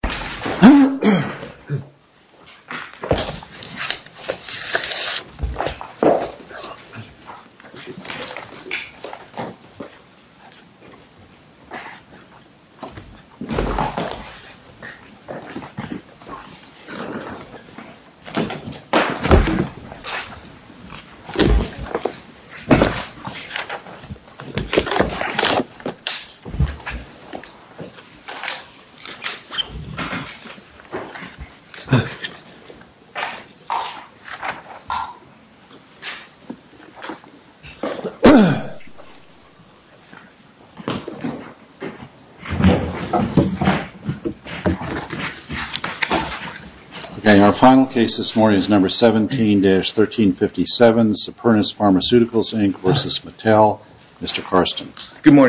Good morning,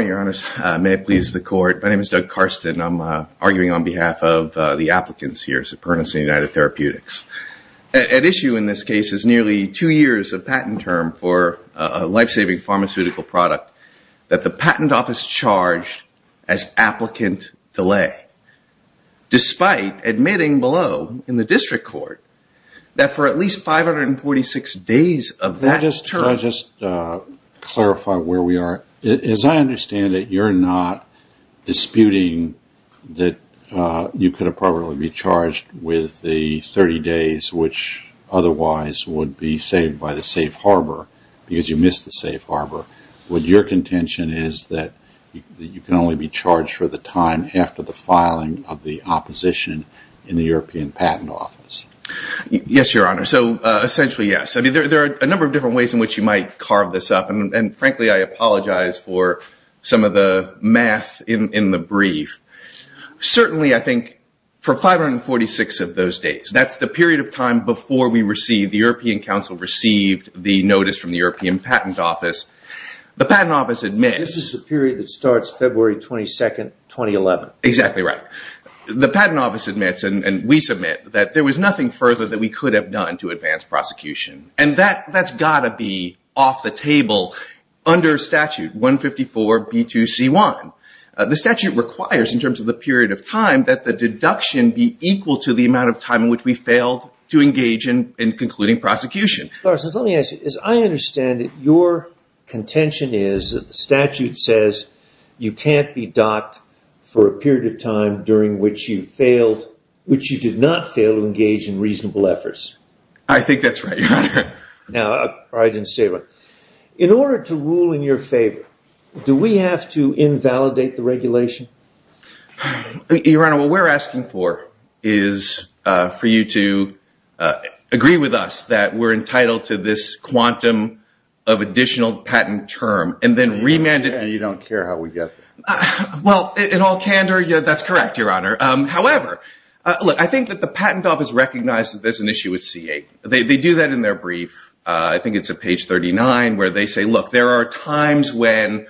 Your Honors. May it please the Court, my name is Doug Carston. I'm arguing on behalf of the applicants here, Supernus and United Therapeutics. At issue in this case is nearly two years of patent term for a life-saving pharmaceutical product that the patent office charged as applicant delay, despite admitting below in the district court that for at least 546 days of that term... you could probably be charged with the 30 days which otherwise would be saved by the safe harbor because you missed the safe harbor. Would your contention is that you can only be charged for the time after the filing of the opposition in the European patent office? Yes, Your Honor. So essentially, yes. I mean, there are a number of different ways in which you might carve this up. And frankly, I apologize for some of the math in the brief. Certainly, I think for 546 of those days, that's the period of time before we received, the European Council received the notice from the European patent office. The patent office admits... This is the period that starts February 22, 2011. Exactly right. The patent office admits, and we submit, that there was nothing further that we could have done to advance prosecution. And that's got to be off the table under statute 154B2C1. The statute requires, in terms of the period of time, that the deduction be equal to the amount of time in which we failed to engage in concluding prosecution. So let me ask you, as I understand it, your contention is that the statute says you can't be docked for a period of time during which you failed, which you did not fail to engage in reasonable efforts. I think that's right, Your Honor. Now, I probably didn't say it right. In order to rule in your favor, do we have to invalidate the regulation? Your Honor, what we're asking for is for you to agree with us that we're entitled to this quantum of additional patent term, and then remand it... And you don't care how we get there. Well, in all candor, that's correct, Your Honor. However, I think that the patent office recognizes that there's an issue with C8. They do that in their brief. I think it's at page 39, where they say, look, there are times when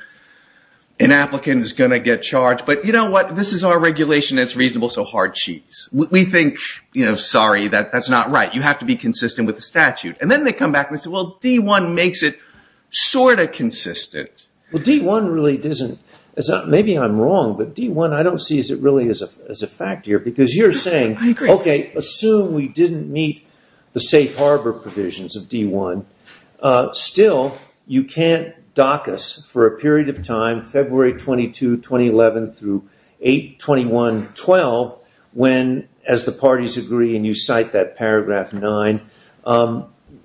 an applicant is going to get charged, but you know what? This is our regulation, and it's reasonable, so hard cheese. We think, you know, sorry, that's not right. You have to be consistent with the statute. And then they come back, and they say, well, D1 makes it sort of consistent. Well, D1 really doesn't. Maybe I'm wrong, but D1, I don't see it really as a fact here, because you're saying, okay, assume we didn't meet the safe harbor provisions of D1. Still, you can't dock us for a period of time, February 22, 2011, through 8, 21, 12, when, as the parties agree, and you cite that paragraph 9,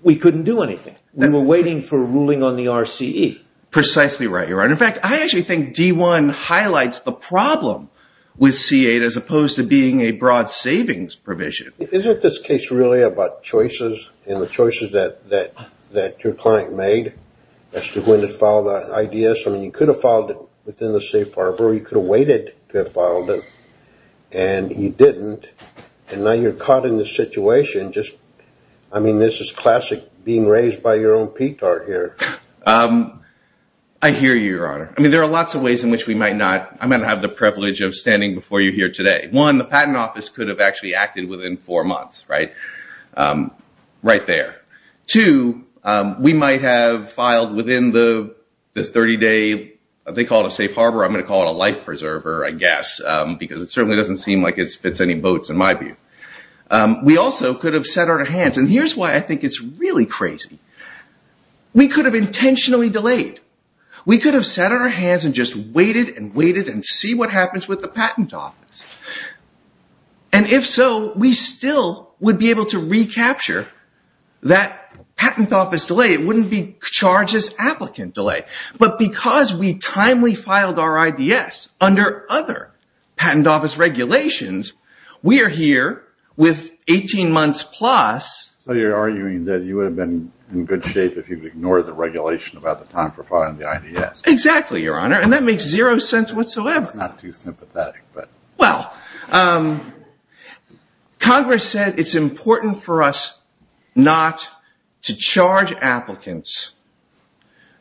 we couldn't do anything. We were waiting for a ruling on the RCE. Precisely right, you're right. In fact, I actually think D1 highlights the problem with C8, as opposed to being a broad savings provision. Isn't this case really about choices, and the choices that your client made as to when to file the IDS? I mean, you could have filed it within the safe harbor, or you could have waited to have filed it, and you didn't, and now you're caught in this situation. I mean, this is classic being raised by your own petard here. I hear you, Your Honor. I mean, there are lots of ways in which we might not. I might have the privilege of standing before you here today. One, the patent office could have actually acted within four months, right there. Two, we might have filed within the 30-day, they call it a safe harbor, I'm going to call it a life preserver, I guess, because it certainly doesn't seem like it fits any boats, in my view. We also could have set our hands, and here's why I think it's really crazy. We could have intentionally delayed. We could have set our hands and just waited and waited and see what happens with the patent office. And if so, we still would be able to recapture that patent office delay. It wouldn't be charges applicant delay. But because we timely filed our IDS under other patent office regulations, we are here with 18 months plus. So you're arguing that you would have been in good shape if you'd ignored the regulation about the time for filing the IDS. Exactly, Your Honor. And that makes zero sense whatsoever. It's not too sympathetic. Well, Congress said it's important for us not to charge applicants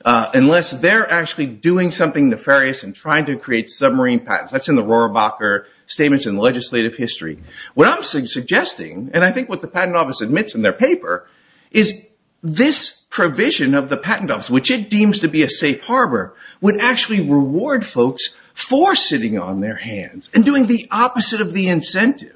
unless they're actually doing something nefarious and trying to create submarine patents. That's in the Rohrabacher Statements in Legislative History. What I'm suggesting, and I think what the patent office admits in their paper, is this provision of the patent office, which it deems to be a safe harbor, would actually reward folks for sitting on their hands and doing the opposite of the incentive.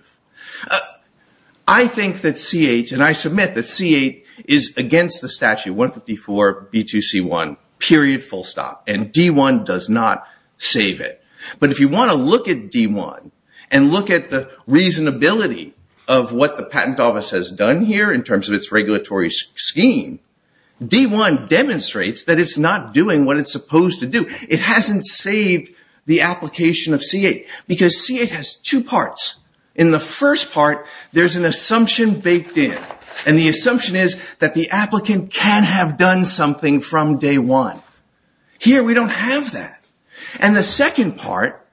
I think that CH, and I submit that CH is against the statute 154 B2C1, period, full stop. And D1 does not save it. But if you want to look at D1 and look at the reasonability of what the patent office has done here in terms of its regulatory scheme, D1 demonstrates that it's not doing what it's supposed to do. It hasn't saved the application of CH, because CH has two parts. In the first part, there's an assumption baked in. And the assumption is that the applicant can have done something from day one. Here, we don't have that. And the second part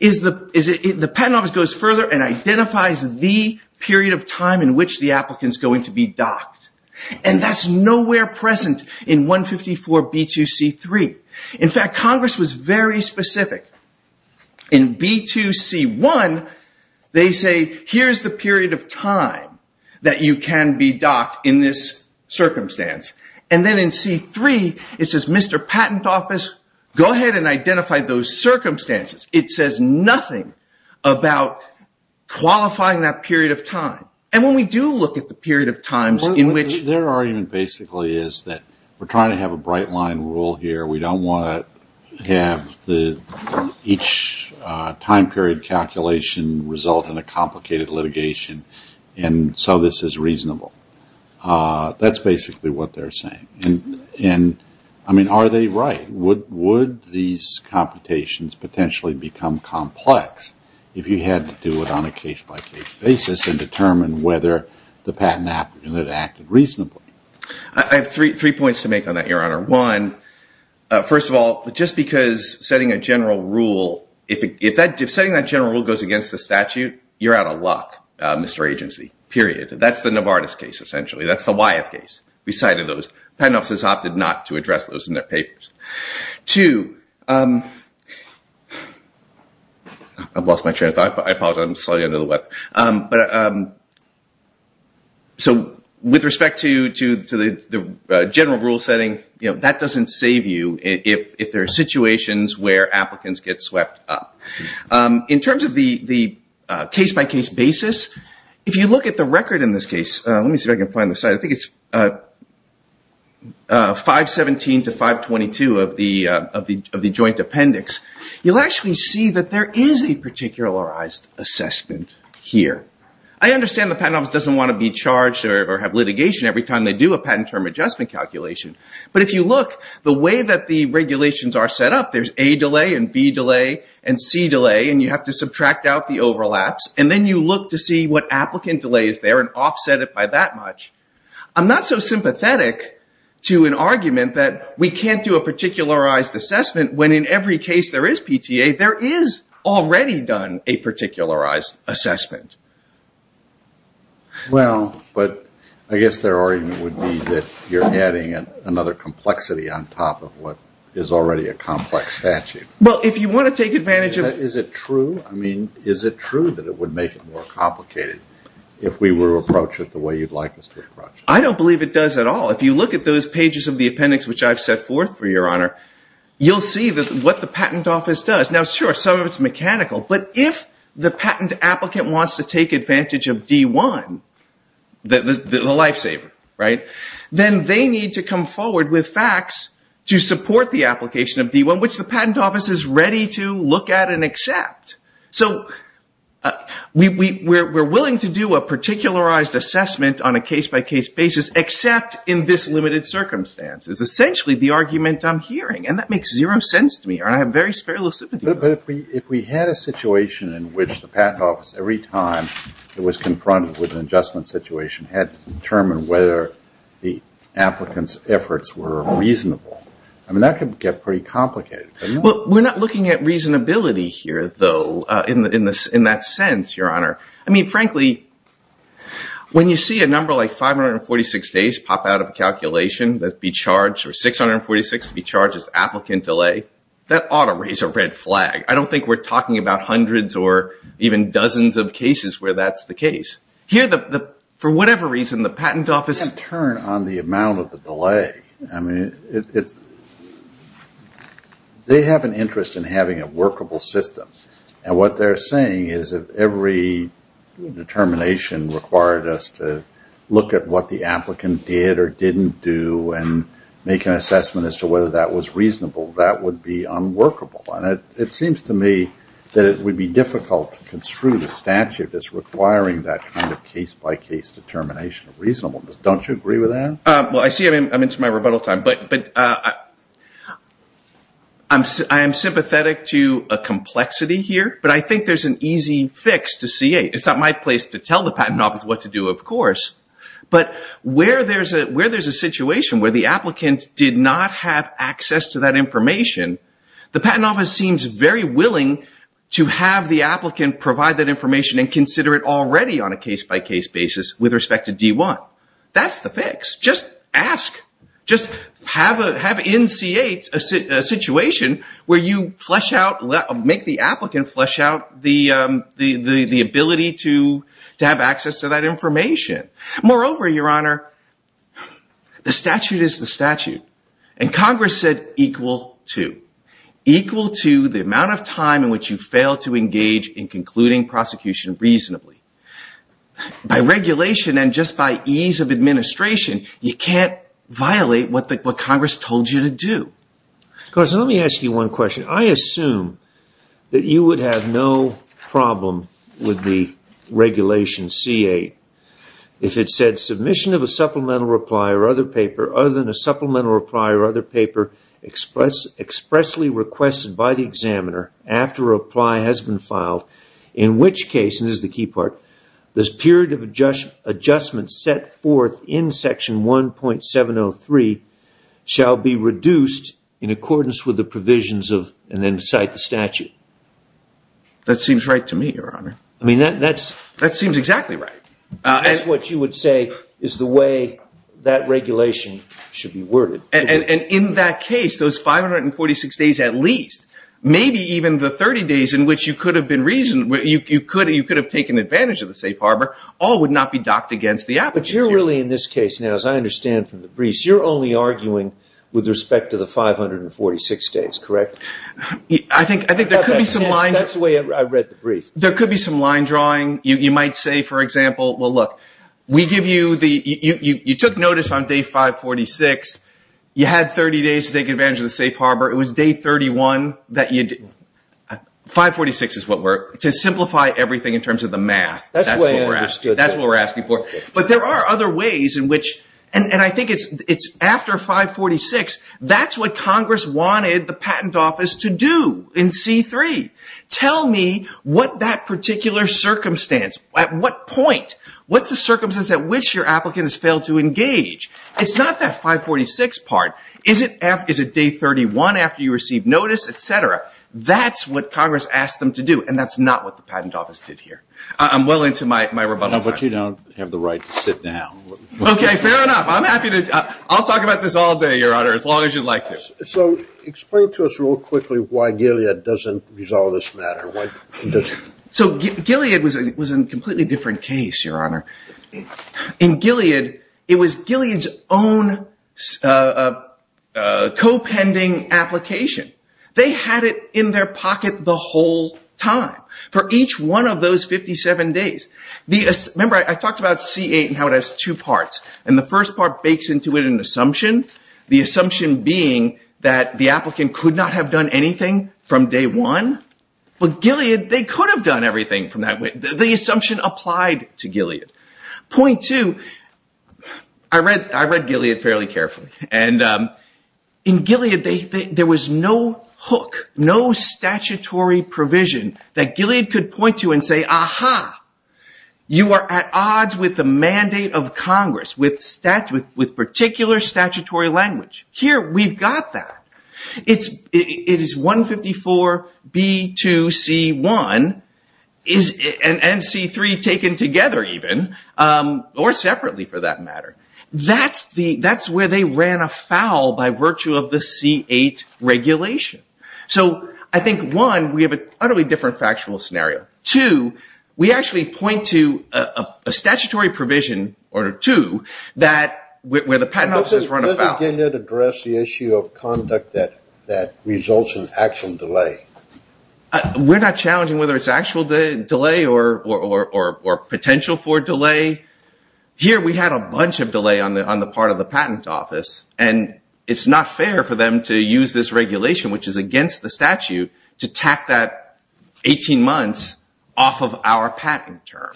is the patent office goes further and identifies the period of time in which the applicant's going to be docked. And that's nowhere present in 154 B2C3. In fact, Congress was very specific. In B2C1, they say, here's the period of time that you can be docked in this circumstance. And then in C3, it says, Mr. Patent Office, go ahead and identify those circumstances. It says nothing about qualifying that period of time. And when we do look at the period of times in which... There argument basically is that we're trying to have a bright line rule here. We don't want to have each time period calculation result in a complicated litigation. And so this is reasonable. That's basically what they're saying. And I mean, are they right? Would these computations potentially become complex if you had to do it on a case-by-case basis and determine whether the patent applicant had acted reasonably? I have three points to make on that, Your Honor. One, first of all, just because setting a general rule... If setting that general rule goes against the statute, you're out of luck, Mr. Agency, period. That's the Novartis case, essentially. That's the Wyeth case. We cited those. Patent offices opted not to address those in their papers. Two... I've lost my train of thought. I apologize. I'm slowly under the weather. But so with respect to the general rule setting, that doesn't save you if there are situations where applicants get swept up. In terms of the case-by-case basis, if you look at the record in this case... Let me see if I can find the site. I think it's 517 to 522 of the joint appendix. You'll actually see that there is a particularized assessment. I understand the patent office doesn't want to be charged or have litigation every time they do a patent term adjustment calculation. But if you look, the way that the regulations are set up, there's A delay and B delay and C delay, and you have to subtract out the overlaps. And then you look to see what applicant delay is there and offset it by that much. I'm not so sympathetic to an argument that we can't do a particularized assessment when in case there is PTA, there is already done a particularized assessment. Well, but I guess their argument would be that you're adding another complexity on top of what is already a complex statute. Well, if you want to take advantage of... Is it true? I mean, is it true that it would make it more complicated if we were to approach it the way you'd like us to approach it? I don't believe it does at all. If you look at those pages of the appendix, which I've set forth for your honor, you'll see what the patent office does. Now, sure, some of it's mechanical, but if the patent applicant wants to take advantage of D1, the lifesaver, then they need to come forward with facts to support the application of D1, which the patent office is ready to look at and accept. So we're willing to do a particularized assessment on a case-by-case basis, except in this limited circumstance. It's essentially the argument I'm hearing, and that makes zero sense to me. I have very spare lucidity. But if we had a situation in which the patent office, every time it was confronted with an adjustment situation, had to determine whether the applicant's efforts were reasonable, I mean, that could get pretty complicated. Well, we're not looking at reasonability here, though, in that sense, your honor. I mean, that be charged, or 646 be charged as applicant delay, that ought to raise a red flag. I don't think we're talking about hundreds or even dozens of cases where that's the case. Here, for whatever reason, the patent office... We can't turn on the amount of the delay. I mean, they have an interest in having a workable system. And what they're saying is, if every determination required us to look at what the didn't do and make an assessment as to whether that was reasonable, that would be unworkable. And it seems to me that it would be difficult to construe the statute that's requiring that kind of case-by-case determination of reasonableness. Don't you agree with that? Well, I see I'm into my rebuttal time. But I am sympathetic to a complexity here, but I think there's an easy fix to C8. It's not my place to tell the patent office what to do, of course. But where there's a situation where the applicant did not have access to that information, the patent office seems very willing to have the applicant provide that information and consider it already on a case-by-case basis with respect to D1. That's the fix. Just ask. Just have in C8 a situation where you make the applicant flesh out the ability to have access to that information. Moreover, Your Honor, the statute is the statute. And Congress said equal to. Equal to the amount of time in which you fail to engage in concluding prosecution reasonably. By regulation and just by ease of administration, you can't violate what Congress told you to do. Carson, let me ask you one question. I assume that you would have no problem with the regulation C8 if it said submission of a supplemental reply or other paper other than a supplemental reply or other paper expressly requested by the examiner after reply has been filed, in which case, and this is the key part, this period of adjustment set forth in section 1.703 shall be reduced in accordance with the provisions of and then cite the statute. That seems right to me, Your Honor. I mean, that seems exactly right. That's what you would say is the way that regulation should be worded. And in that case, those 546 days at least, maybe even the 30 days in which you could have been reasoned, you could have taken advantage of the safe harbor, all would not be docked against the briefs. You're only arguing with respect to the 546 days, correct? I think there could be some line drawing. You might say, for example, well, look, you took notice on day 546. You had 30 days to take advantage of the safe harbor. It was day 31. 546 is what we're, to simplify everything in terms of the math. That's what we're asking for. But there are other ways in which, and I think it's after 546, that's what Congress wanted the patent office to do in C3. Tell me what that particular circumstance, at what point, what's the circumstance at which your applicant has failed to engage? It's not that 546 part. Is it day 31 after you received notice, et cetera? That's what Congress asked them to do. And that's not what the I'll talk about this all day, Your Honor, as long as you'd like to. So explain to us real quickly why Gilead doesn't resolve this matter. So Gilead was a completely different case, Your Honor. In Gilead, it was Gilead's own co-pending application. They had it in their pocket the whole time for each one of those 57 days. Remember, I talked about C8 and how it has two parts. And the first part bakes into it an assumption. The assumption being that the applicant could not have done anything from day one. But Gilead, they could have done everything from that point. The assumption applied to Gilead. Point two, I read Gilead fairly carefully. And in Gilead, there was no hook, no statutory provision that Gilead could point to and say, aha, you are at odds with the mandate of Congress with particular statutory language. Here, we've got that. It is 154B2C1 and C3 taken together even, or separately for that matter. That's where they ran afoul by virtue of the C8 regulation. So I think, one, we have an utterly different factual scenario. Two, we actually point to a statutory provision, or two, where the patent office has run afoul. Doesn't Gilead address the issue of conduct that results in actual delay? We're not challenging whether it's actual delay or potential for delay. Here, we had a bunch of against the statute to tack that 18 months off of our patent term.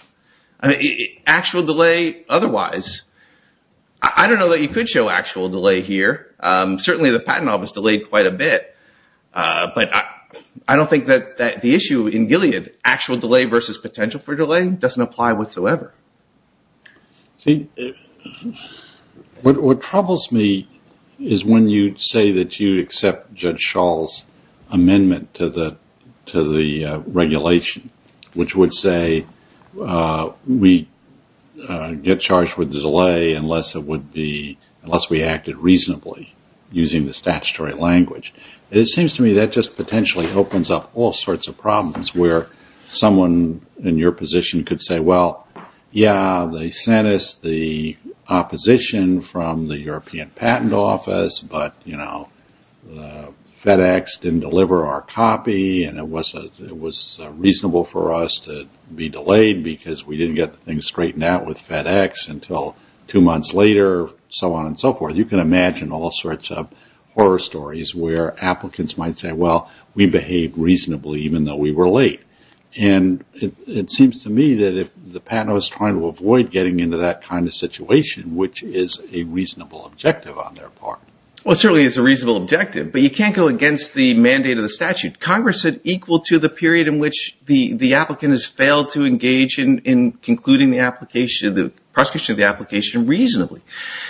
Actual delay otherwise, I don't know that you could show actual delay here. Certainly, the patent office delayed quite a bit. But I don't think that the issue in Gilead, actual delay versus potential for delay, doesn't apply whatsoever. What troubles me is when you say that you accept Judge Schall's amendment to the regulation, which would say we get charged with delay unless we acted reasonably using the statutory language. It seems to me that just potentially opens up all sorts of problems where someone in your position could say, well, yeah, they sent us the opposition from the FedEx, didn't deliver our copy, and it was reasonable for us to be delayed because we didn't get the thing straightened out with FedEx until two months later, so on and so forth. You can imagine all sorts of horror stories where applicants might say, well, we behaved reasonably even though we were late. It seems to me that if the patent office is trying to avoid getting into that kind of situation, which is a reasonable objective on their part. Well, it certainly is a reasonable objective, but you can't go against the mandate of the statute. Congress said equal to the period in which the applicant has failed to engage in concluding the prosecution of the application reasonably.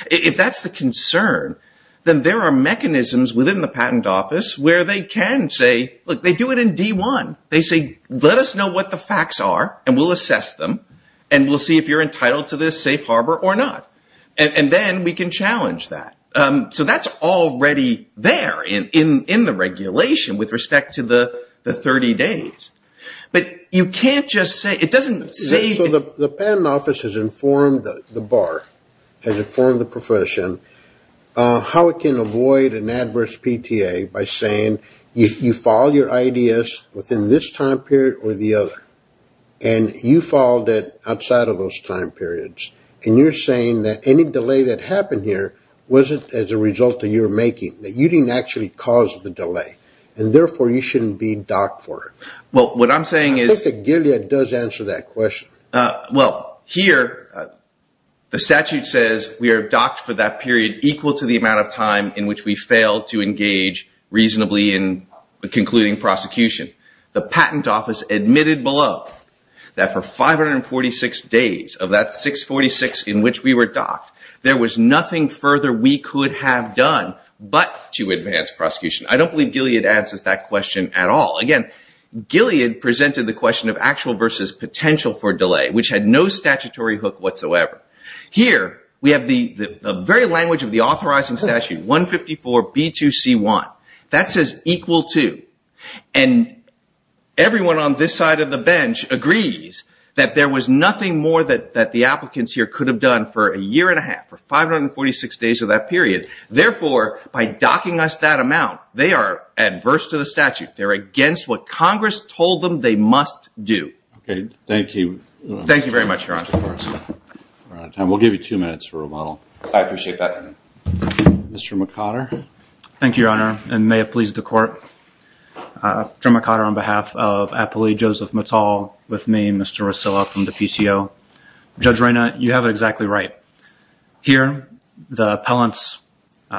If that's the concern, then there are mechanisms within the patent office where they can say, look, they do it in D1. They say, let us know what the facts are, and we'll assess them, and we'll see if you're entitled to this safe harbor or not. And then we can challenge that. So that's already there in the regulation with respect to the 30 days. But you can't just say, it doesn't say... So the patent office has informed the bar, has informed the profession how it can avoid an adverse PTA by saying, you file your IDS within this time period or the other, and you filed it outside of those time periods, and you're saying that any delay that happened here wasn't as a result of your making, that you didn't actually cause the delay, and therefore, you shouldn't be docked for it. Well, what I'm saying is... I think that Gilead does answer that question. Well, here, the statute says we are docked for that period equal to the amount of time in which we failed to engage reasonably in concluding prosecution. The patent office admitted below that for 546 days of that 646 in which we were docked, there was nothing further we could have done but to advance prosecution. I don't believe Gilead answers that question at all. Again, Gilead presented the question of actual versus potential for delay, which had no statutory hook whatsoever. Here, we have the very language of the authorizing statute, 154B2C1. That says equal to, and everyone on this side of the bench agrees that there was nothing more that the applicants here could have done for a year and a half, for 546 days of that period. Therefore, by docking us that amount, they are adverse to the statute. They're against what Congress told them they must do. Okay. Thank you. Thank you very much, Your Honor. We'll give you two minutes for Mr. McOtter. Thank you, Your Honor, and may it please the Court. Joe McOtter on behalf of Apolli Joseph Mattal, with me, Mr. Rosillo from the PTO. Judge Reyna, you have it exactly right. Here, the appellants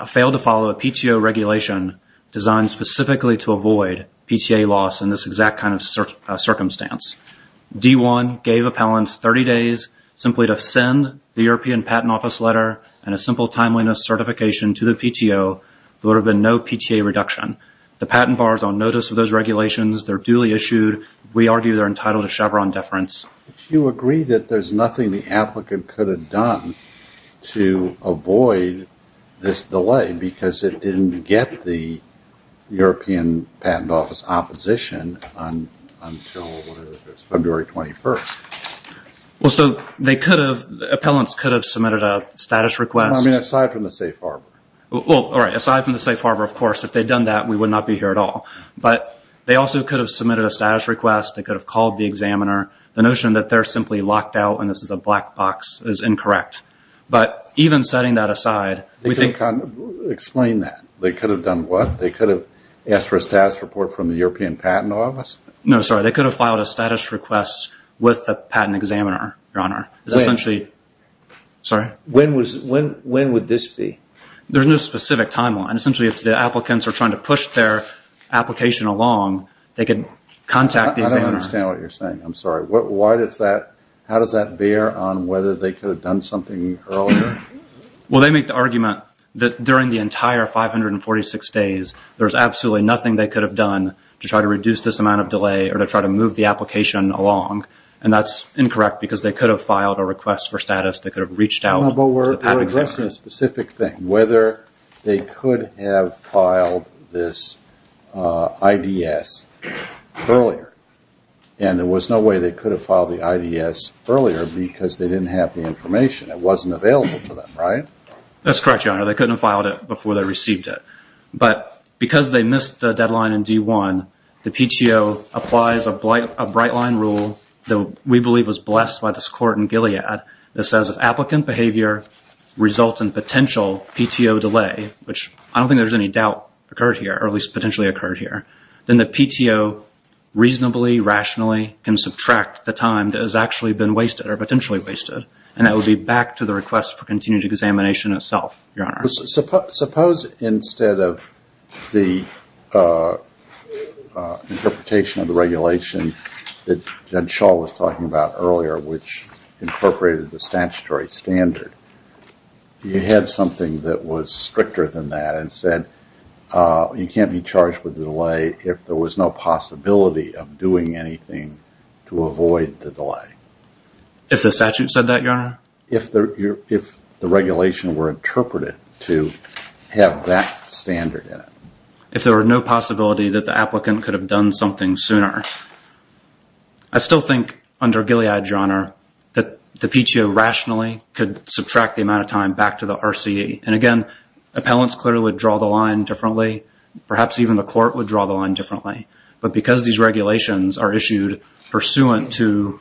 failed to follow a PTO regulation designed specifically to avoid PTA loss in this exact kind of circumstance. D1 gave appellants 30 days simply to send the European Patent Office letter and a simple timeliness certification to the PTO. There would have been no PTA reduction. The patent bar is on notice of those regulations. They're duly issued. We argue they're entitled to Chevron deference. Do you agree that there's nothing the applicant could have done to avoid this delay because it didn't get the European Patent Office opposition until, what is this, February 21st? Well, so they could have, the appellants could have submitted a status request. I mean, aside from the safe harbor. Well, all right. Aside from the safe harbor, of course, if they'd done that, we would not be here at all. But they also could have submitted a status request. They could have called the examiner. The notion that they're simply locked out and this is a black box is incorrect. But even setting that aside, we think... Report from the European Patent Office? No, sorry. They could have filed a status request with the patent examiner, Your Honor. When would this be? There's no specific timeline. Essentially, if the applicants are trying to push their application along, they could contact the examiner. I don't understand what you're saying. I'm sorry. How does that bear on whether they could have done something earlier? Well, they make the argument that during the entire 546 days, there's absolutely nothing they could have done to try to reduce this amount of delay or to try to move the application along. And that's incorrect because they could have filed a request for status. They could have reached out to the patent examiner. But we're addressing a specific thing, whether they could have filed this IDS earlier. And there was no way they could have filed the IDS earlier because they didn't have the information. It wasn't available to them, right? That's correct, Your Honor. They couldn't have filed it before they received it. But because they missed the deadline in D1, the PTO applies a bright line rule that we believe was blessed by this court in Gilead that says if applicant behavior results in potential PTO delay, which I don't think there's any doubt occurred here, or at least potentially occurred here, then the PTO reasonably, rationally can subtract the time that has actually been wasted or potentially wasted. And that would be back to the request for continued examination itself, Your Honor. Suppose instead of the interpretation of the regulation that Judge Schall was talking about earlier, which incorporated the statutory standard, you had something that was stricter than that and said you can't be charged with a delay if there was no possibility of doing anything to avoid the delay. If the statute said that, Your Honor? If the regulation were interpreted to have that standard in it. If there were no possibility that the applicant could have done something sooner. I still think under Gilead, Your Honor, that the PTO rationally could subtract the amount of time back to the RCE. And again, appellants clearly would draw the line differently. Perhaps even the court would draw the line differently. But because these regulations are issued pursuant to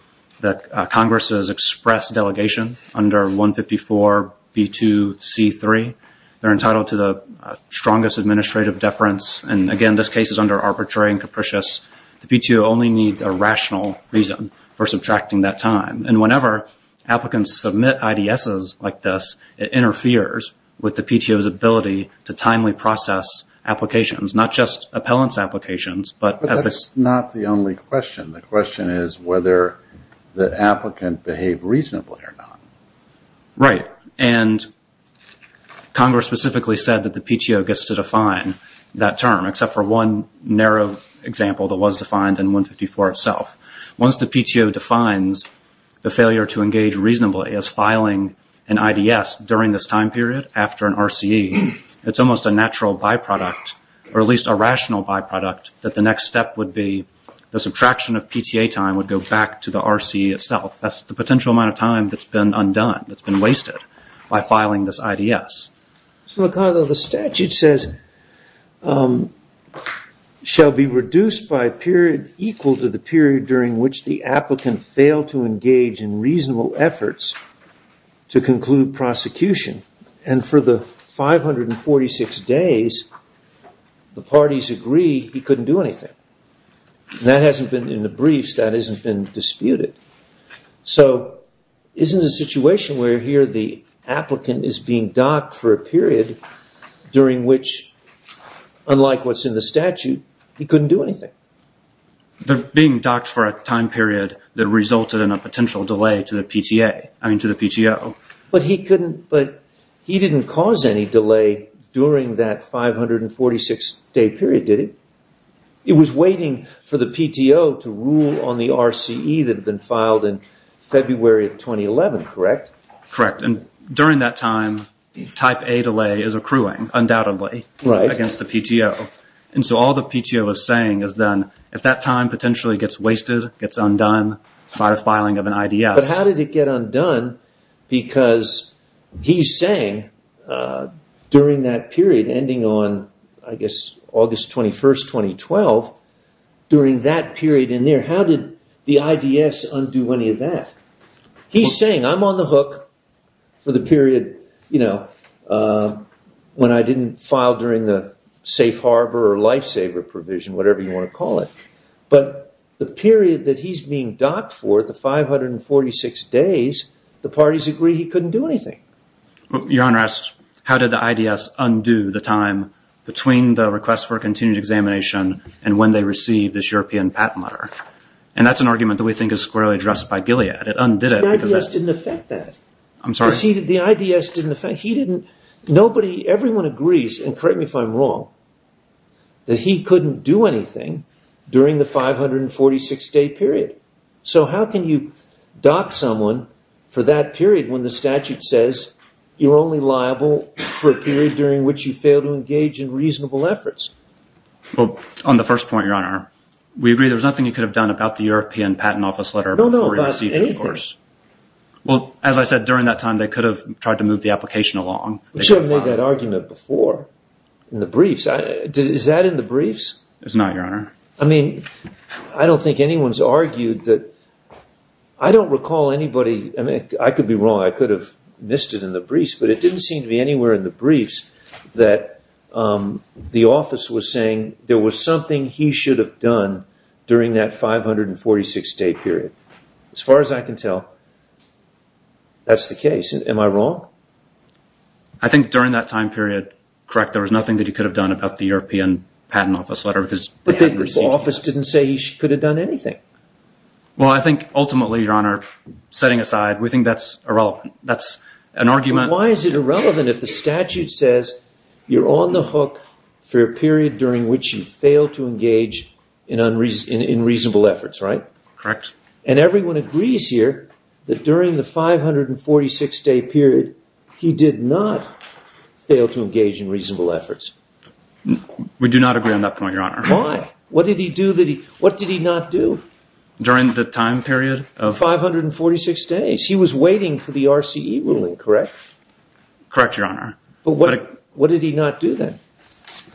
Congress's express delegation under 154B2C3, they're entitled to the strongest administrative deference. And again, this case is under arbitrary and capricious. The PTO only needs a rational reason for subtracting that time. And whenever applicants submit IDSs like this, it interferes with the PTO's ability to timely process applications. Not just appellant's applications. But that's not the only question. The question is whether the applicant behaved reasonably or not. Right. And Congress specifically said that the PTO gets to define that term, except for one narrow example that was defined in 154 itself. Once the PTO defines the failure to engage reasonably as filing an IDS during this time period after an RCE, it's almost a natural byproduct, or at least a rational byproduct, that the next step would be the subtraction of PTA time would go back to the RCE itself. That's the potential amount of time that's been undone, that's been wasted by filing this IDS. So, Ricardo, the statute says, shall be reduced by period equal to the period during which the And for the 546 days, the parties agree he couldn't do anything. That hasn't been in the briefs, that hasn't been disputed. So, isn't the situation where here the applicant is being docked for a period during which, unlike what's in the statute, he couldn't do anything? They're being docked for a time period that resulted in a potential delay to the PTA, I mean to the PTO. But he didn't cause any delay during that 546-day period, did he? It was waiting for the PTO to rule on the RCE that had been filed in February of 2011, correct? Correct. And during that time, type A delay is accruing, undoubtedly, against the PTO. And so all the PTO is saying is then, if that time potentially gets wasted, gets undone by the filing of an IDS. But how did it get undone? Because he's saying, during that period ending on, I guess, August 21st, 2012, during that period in there, how did the IDS undo any of that? He's saying, I'm on the hook for the period, you know, when I didn't file during the safe harbor or lifesaver provision, whatever you want to call it. But the period that he's being docked for, the 546 days, the parties agree he couldn't do anything. Your Honor asks, how did the IDS undo the time between the request for continued examination and when they received this European patent letter? And that's an argument that we think is squarely addressed by Gilead. It undid it because... The IDS didn't affect that. I'm sorry? The IDS didn't affect... Nobody, everyone agrees, and correct me if I'm wrong, that he couldn't do anything during the 546-day period. So how can you dock someone for that period when the statute says you're only liable for a period during which you fail to engage in reasonable efforts? Well, on the first point, Your Honor, we agree there's nothing you could have done about the European patent office letter before you received it, of course. Well, as I said, during that time, they could have tried to move the application along. We should have made that argument before in the briefs. Is that in the briefs? It's not, Your Honor. I mean, I don't think anyone's argued that... I don't recall anybody... I mean, I could be wrong. I could have missed it in the briefs, but it didn't seem to be anywhere in the briefs that the office was saying there was something he should have done during that 546-day period. As far as I can tell, that's the case. Am I wrong? I think during that time period, correct, there was nothing that he could have done about the European patent office letter because... But the office didn't say he could have done anything. Well, I think ultimately, Your Honor, setting aside, we think that's irrelevant. That's an argument... Why is it irrelevant if the statute says you're on the hook for a period during which you fail to engage in unreasonable efforts, right? Correct. And everyone agrees here that during the 546-day period, he did not fail to engage in reasonable efforts. We do not agree on that point, Your Honor. Why? What did he do that he... What did he not do? During the time period of... 546 days. He was waiting for the RCE ruling, correct? Correct, Your Honor. But what did he not do then?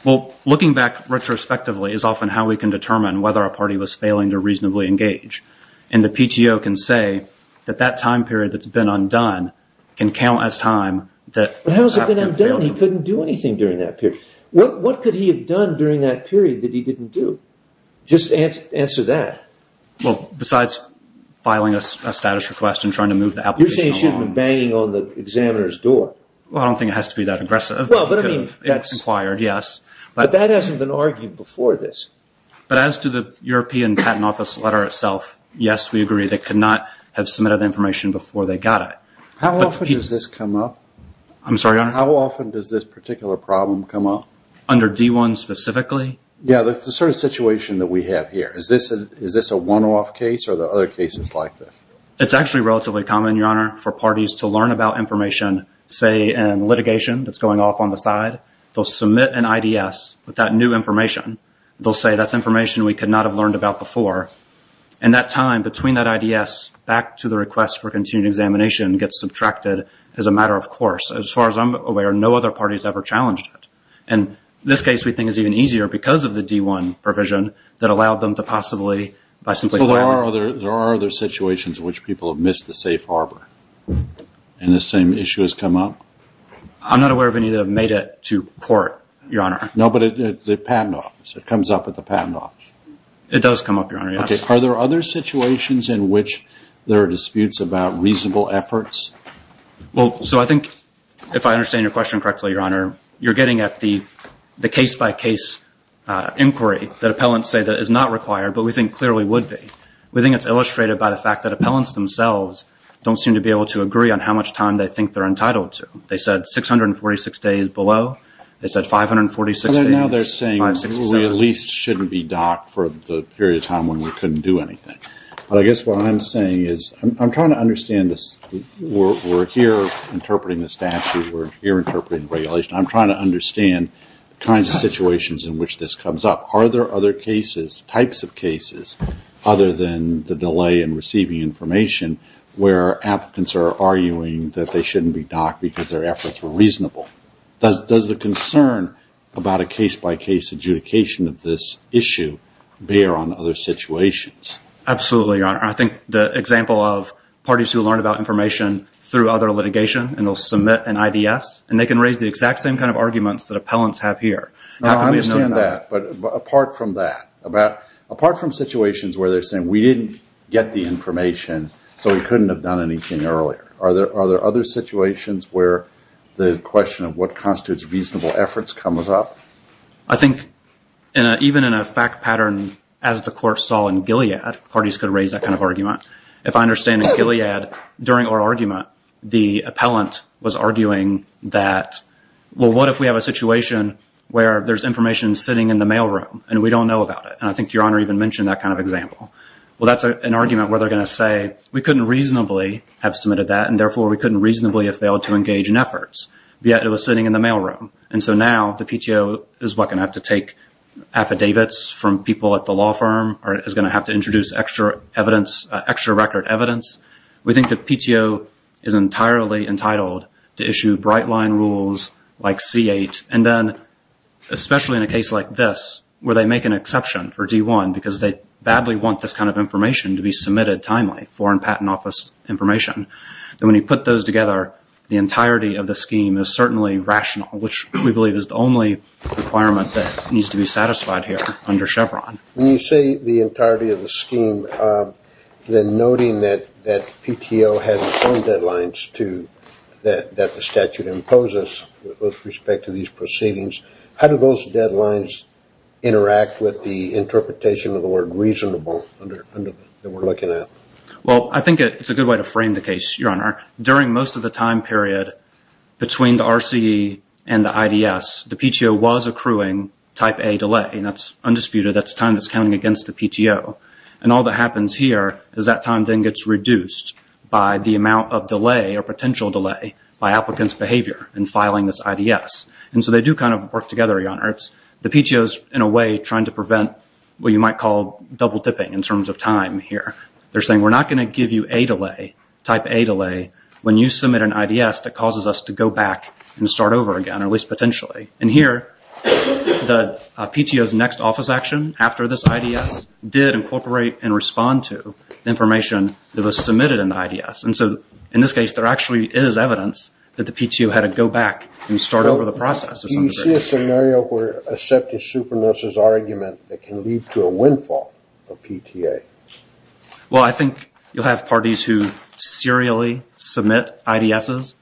Well, looking back retrospectively is often how we can determine whether a party was failing to reasonably engage. And the PTO can say that that time period that's been undone can count as time that... How has it been undone? He couldn't do anything during that period. What could he have done during that period that he didn't do? Just answer that. Well, besides filing a status request and trying to move the application on... You're saying he should have been banging on the examiner's door. Well, I don't think it has to be that aggressive. Well, but I mean, that's... Inquired, yes. But that hasn't been argued before this. But as to the European Patent Office letter itself, yes, we agree they could not have submitted the information before they got it. How often does this come up? I'm sorry, Your Honor? How often does this particular problem come up? Under D1 specifically? Yeah, that's the sort of situation that we have here. Is this a one-off case or are there other cases like this? It's actually relatively common, Your Honor, for parties to learn about information, say in litigation that's going off on the side. They'll submit an IDS with that new information. They'll say that's information we could not have learned about before. And that time between that IDS back to the request for continued examination gets subtracted as a matter of course. As far as I'm aware, no other party has ever challenged it. And this case we think is even easier because of the D1 provision that allowed them to possibly by simply filing... But there are other situations in which people have missed the safe harbor and the same issue has come up? I'm not aware of any that have made it to court, Your Honor. No, but the patent office. It comes up at the patent office. It does come up, Your Honor, yes. Are there other situations in which there are disputes about reasonable efforts? Well, so I think if I understand your question correctly, Your Honor, you're getting at the case-by-case inquiry that appellants say that is not required, but we think clearly would be. We think it's illustrated by the fact that appellants themselves don't seem to be able to agree on how much time they think they're entitled to. They said 646 days below. They said 546 days. And now they're saying we at least shouldn't be docked for the period of time when we couldn't do anything. But I guess what I'm saying is I'm trying to understand this. We're here interpreting the statute. We're here interpreting regulation. I'm trying to understand the kinds of situations in which this comes up. Are there other cases, types of cases, other than the delay in receiving information where applicants are arguing that they shouldn't be docked because their efforts were reasonable? Does the concern about a case-by-case adjudication of this issue bear on other situations? Absolutely, Your Honor. I think the example of parties who learn about information through other litigation and they'll submit an IDS, and they can raise the exact same kind of arguments that appellants have here. I understand that. But apart from that, apart from situations where they're saying we didn't get the information, so we couldn't have done anything earlier, are there other situations where the question of what constitutes reasonable efforts comes up? I think even in a fact pattern as the court saw in Gilead, parties could raise that kind of argument. If I understand in Gilead, during our argument, the appellant was arguing that, well, what if we have a situation where there's information sitting in the mailroom and we don't know about it? And I think Your Honor even mentioned that kind of example. Well, that's an argument where they're going to say, we couldn't reasonably have submitted that, and therefore we couldn't reasonably have failed to engage in efforts, yet it was sitting in the mailroom. And so now the PTO is what's going to have to take affidavits from people at the law firm, or is going to have to introduce extra record evidence. We think the PTO is entirely entitled to issue bright-line rules like C8. And then, especially in a case like this, where they make an exception for D1 because they badly want this kind of information to be submitted timely, foreign patent office information, then when you put those together, the entirety of the scheme is certainly rational, which we believe is the only requirement that needs to be satisfied here under Chevron. When you say the entirety of the scheme, then noting that PTO has its own deadlines that the statute imposes with respect to these proceedings, how do those deadlines interact with the interpretation of the word reasonable that we're looking at? Well, I think it's a good way to frame the case, Your Honor. During most of the time period between the RCE and the IDS, the PTO was accruing type A delay, and that's undisputed. That's time that's counting against the PTO. And all that happens here is that time then gets reduced by the amount of delay or potential delay by applicants' behavior in filing this IDS. And so they do kind of work together, Your Honor. It's the PTOs in a way trying to prevent what you might call double dipping in terms of time here. They're saying, we're not going to give you type A delay when you submit an IDS that causes us to go back and start over again, or at least potentially. And here, the PTO's next office action after this IDS did incorporate and respond to the information that was submitted in the IDS. And so in this case, there actually is evidence that the PTO had to go back and start over the process. Do you see a scenario where a septic supernurse's argument that can lead to a windfall of PTA? Well, I think you'll have parties who serially submit IDSs,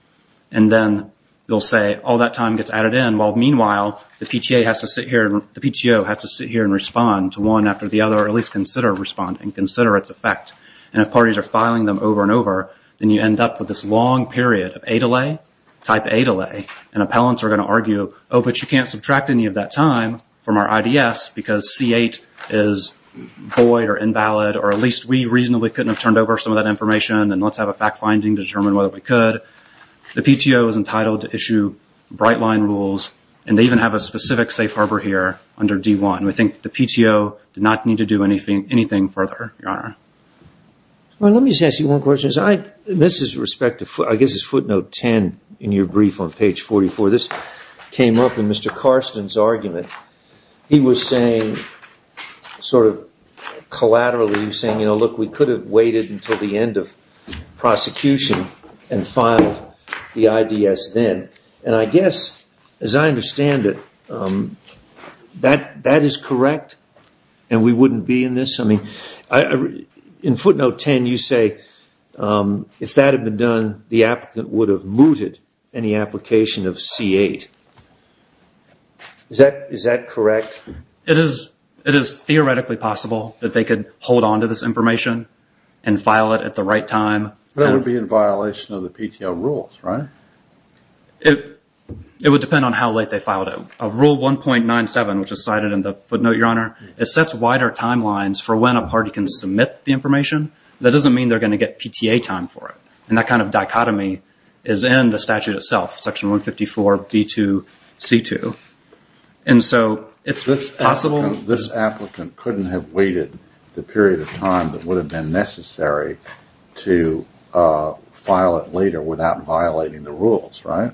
and then they'll say all that time gets added in, while meanwhile, the PTO has to sit here and respond to one after the other, or at least consider responding, consider its effect. And if parties are filing them over and over, then you end up with this long period of A delay, type A delay, and appellants are going to argue, oh, but you can't subtract any of that time from our IDS because C8 is void or invalid, or at least we reasonably couldn't have turned over some of that information, and let's have a fact finding to determine whether we could. The PTO is entitled to issue bright line rules, and they even have a specific safe harbor here under D1. We think the PTO did not need to do anything further, Your Honor. Well, let me just ask you one question. This is respect to, I guess it's footnote 10 in your brief on page 44. This came up in Mr. Karsten's argument. He was saying, sort of collaterally saying, you know, look, we could have waited until the end of prosecution and filed the IDS then. And I guess, as I understand it, that is correct, and we wouldn't be in this. I mean, in footnote 10, you say if that had been done, the applicant would have mooted any application of C8. Is that correct? It is theoretically possible that they could hold on to this information and file it at the right time. That would be in violation of the PTO rules, right? It would depend on how late they filed it. It sets wider timelines for when a party can submit the information. That doesn't mean they're going to get PTA time for it. And that kind of dichotomy is in the statute itself, section 154, D2, C2. And so it's possible. This applicant couldn't have waited the period of time that would have been necessary to file it later without violating the rules, right?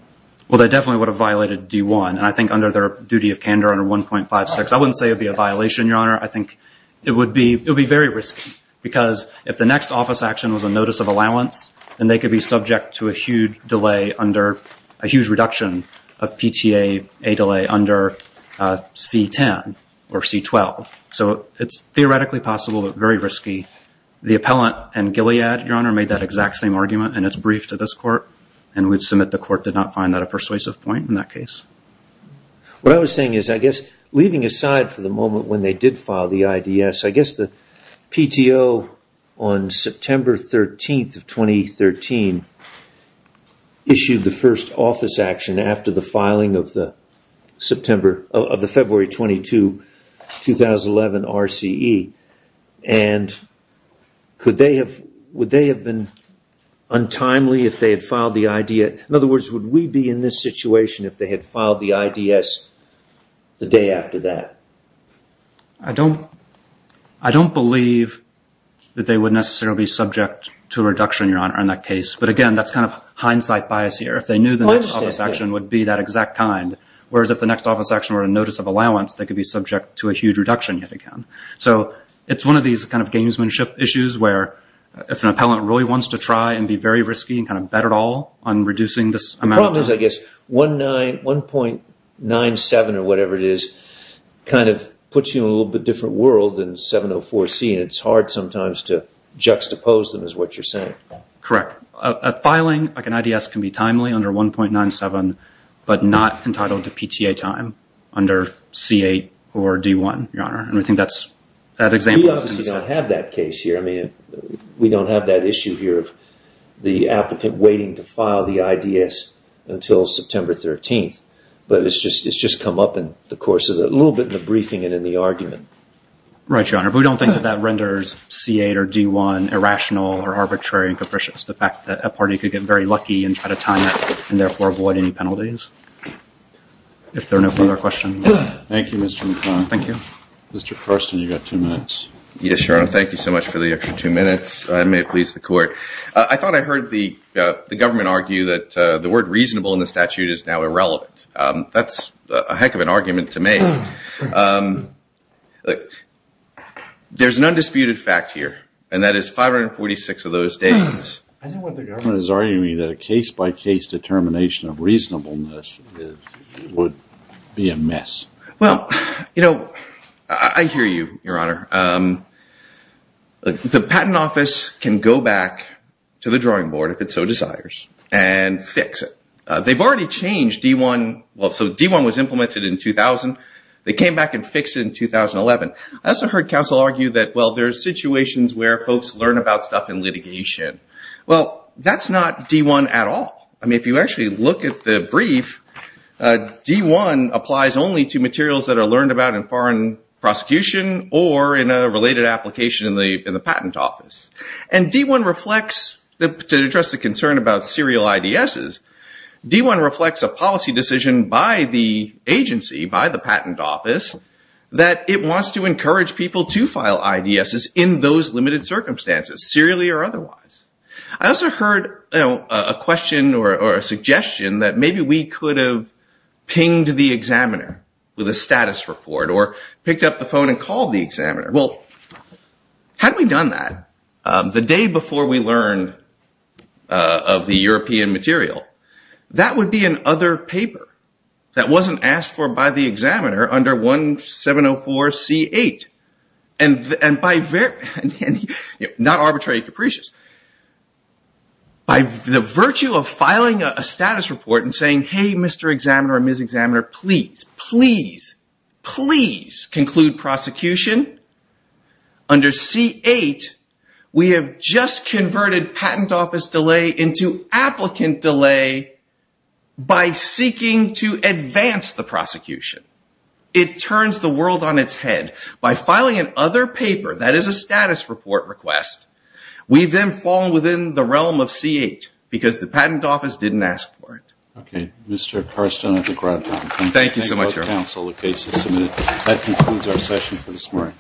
Well, they definitely would have violated D1. And I think under their duty of candor under 1.56, I wouldn't say it'd be a violation, Your Honor. I think it would be very risky. Because if the next office action was a notice of allowance, then they could be subject to a huge delay under a huge reduction of PTA delay under C10 or C12. So it's theoretically possible, but very risky. The appellant and Gilead, Your Honor, made that exact same argument. And it's briefed to this court. And we'd submit the court did not find that a persuasive point in that case. What I was saying is, I guess, leaving aside for the moment when they did file the IDS, I guess the PTO on September 13 of 2013 issued the first office action after the filing of the February 22, 2011 RCE. And would they have been untimely if they had filed the IDS? In other words, would we be in this situation if they had filed the IDS the day after that? I don't believe that they would necessarily be subject to a reduction, Your Honor, in that case. But again, that's kind of hindsight bias here. If they knew the next office action would be that exact kind. Whereas if the next office action were a notice of allowance, they could be subject to a huge reduction yet again. So it's one of these kind of gamesmanship issues where if an appellant really wants to try and be very risky and kind of bet it all on reducing this amount of time. The problem is, I guess, 1.97 or whatever it is, kind of puts you in a little bit different world than 704C and it's hard sometimes to juxtapose them is what you're saying. Correct. Filing like an IDS can be timely under 1.97 but not entitled to PTA time under C8 or D1, Your Honor. And we think that example is... We obviously don't have that case here. I mean, we don't have that issue here the applicant waiting to file the IDS until September 13th. But it's just come up in the course of a little bit in the briefing and in the argument. Right, Your Honor. But we don't think that renders C8 or D1 irrational or arbitrary and capricious. The fact that a party could get very lucky and try to time it and therefore avoid any penalties. If there are no further questions. Thank you, Mr. McClellan. Thank you. Mr. Karsten, you got two minutes. Yes, Your Honor. Thank you so much for the extra two minutes. I may please the court. I thought I heard the government argue that the word reasonable in the statute is now irrelevant. That's a heck of an argument to make. There's an undisputed fact here. And that is 546 of those days. I think what the government is arguing that a case-by-case determination of reasonableness would be a mess. Well, you know, I hear you, Your Honor. The patent office can go back to the drawing board, if it so desires, and fix it. They've already changed D1. Well, so D1 was implemented in 2000. They came back and fixed it in 2011. I also heard counsel argue that, well, there are situations where folks learn about stuff in litigation. Well, that's not D1 at all. I mean, if you actually look at the brief, D1 applies only to materials that are learned about in foreign prosecution or in a related application in the patent office. And D1 reflects, to address the concern about serial IDSs, D1 reflects a policy decision by the agency, by the patent office, that it wants to encourage people to file IDSs in those limited circumstances, serially or otherwise. I also heard a question or a suggestion that maybe we could have pinged the examiner with a status report, or picked up the phone and called the examiner. Well, had we done that the day before we learned of the European material, that would be an other paper that wasn't asked for by the examiner under 1704 C8. Not arbitrary capricious. By the virtue of filing a status report and saying, hey, Mr. Examiner or Ms. Examiner, please, please, please conclude prosecution. Under C8, we have just converted patent office delay into applicant delay by seeking to advance the prosecution. It turns the world on its head. By filing an other paper that is a status report request, we've then fallen within the realm of C8 because the patent office didn't ask for it. Okay, Mr. Carston, I think we're out of time. Thank you so much. Thank you both, counsel. The case is submitted. That concludes our session for this morning.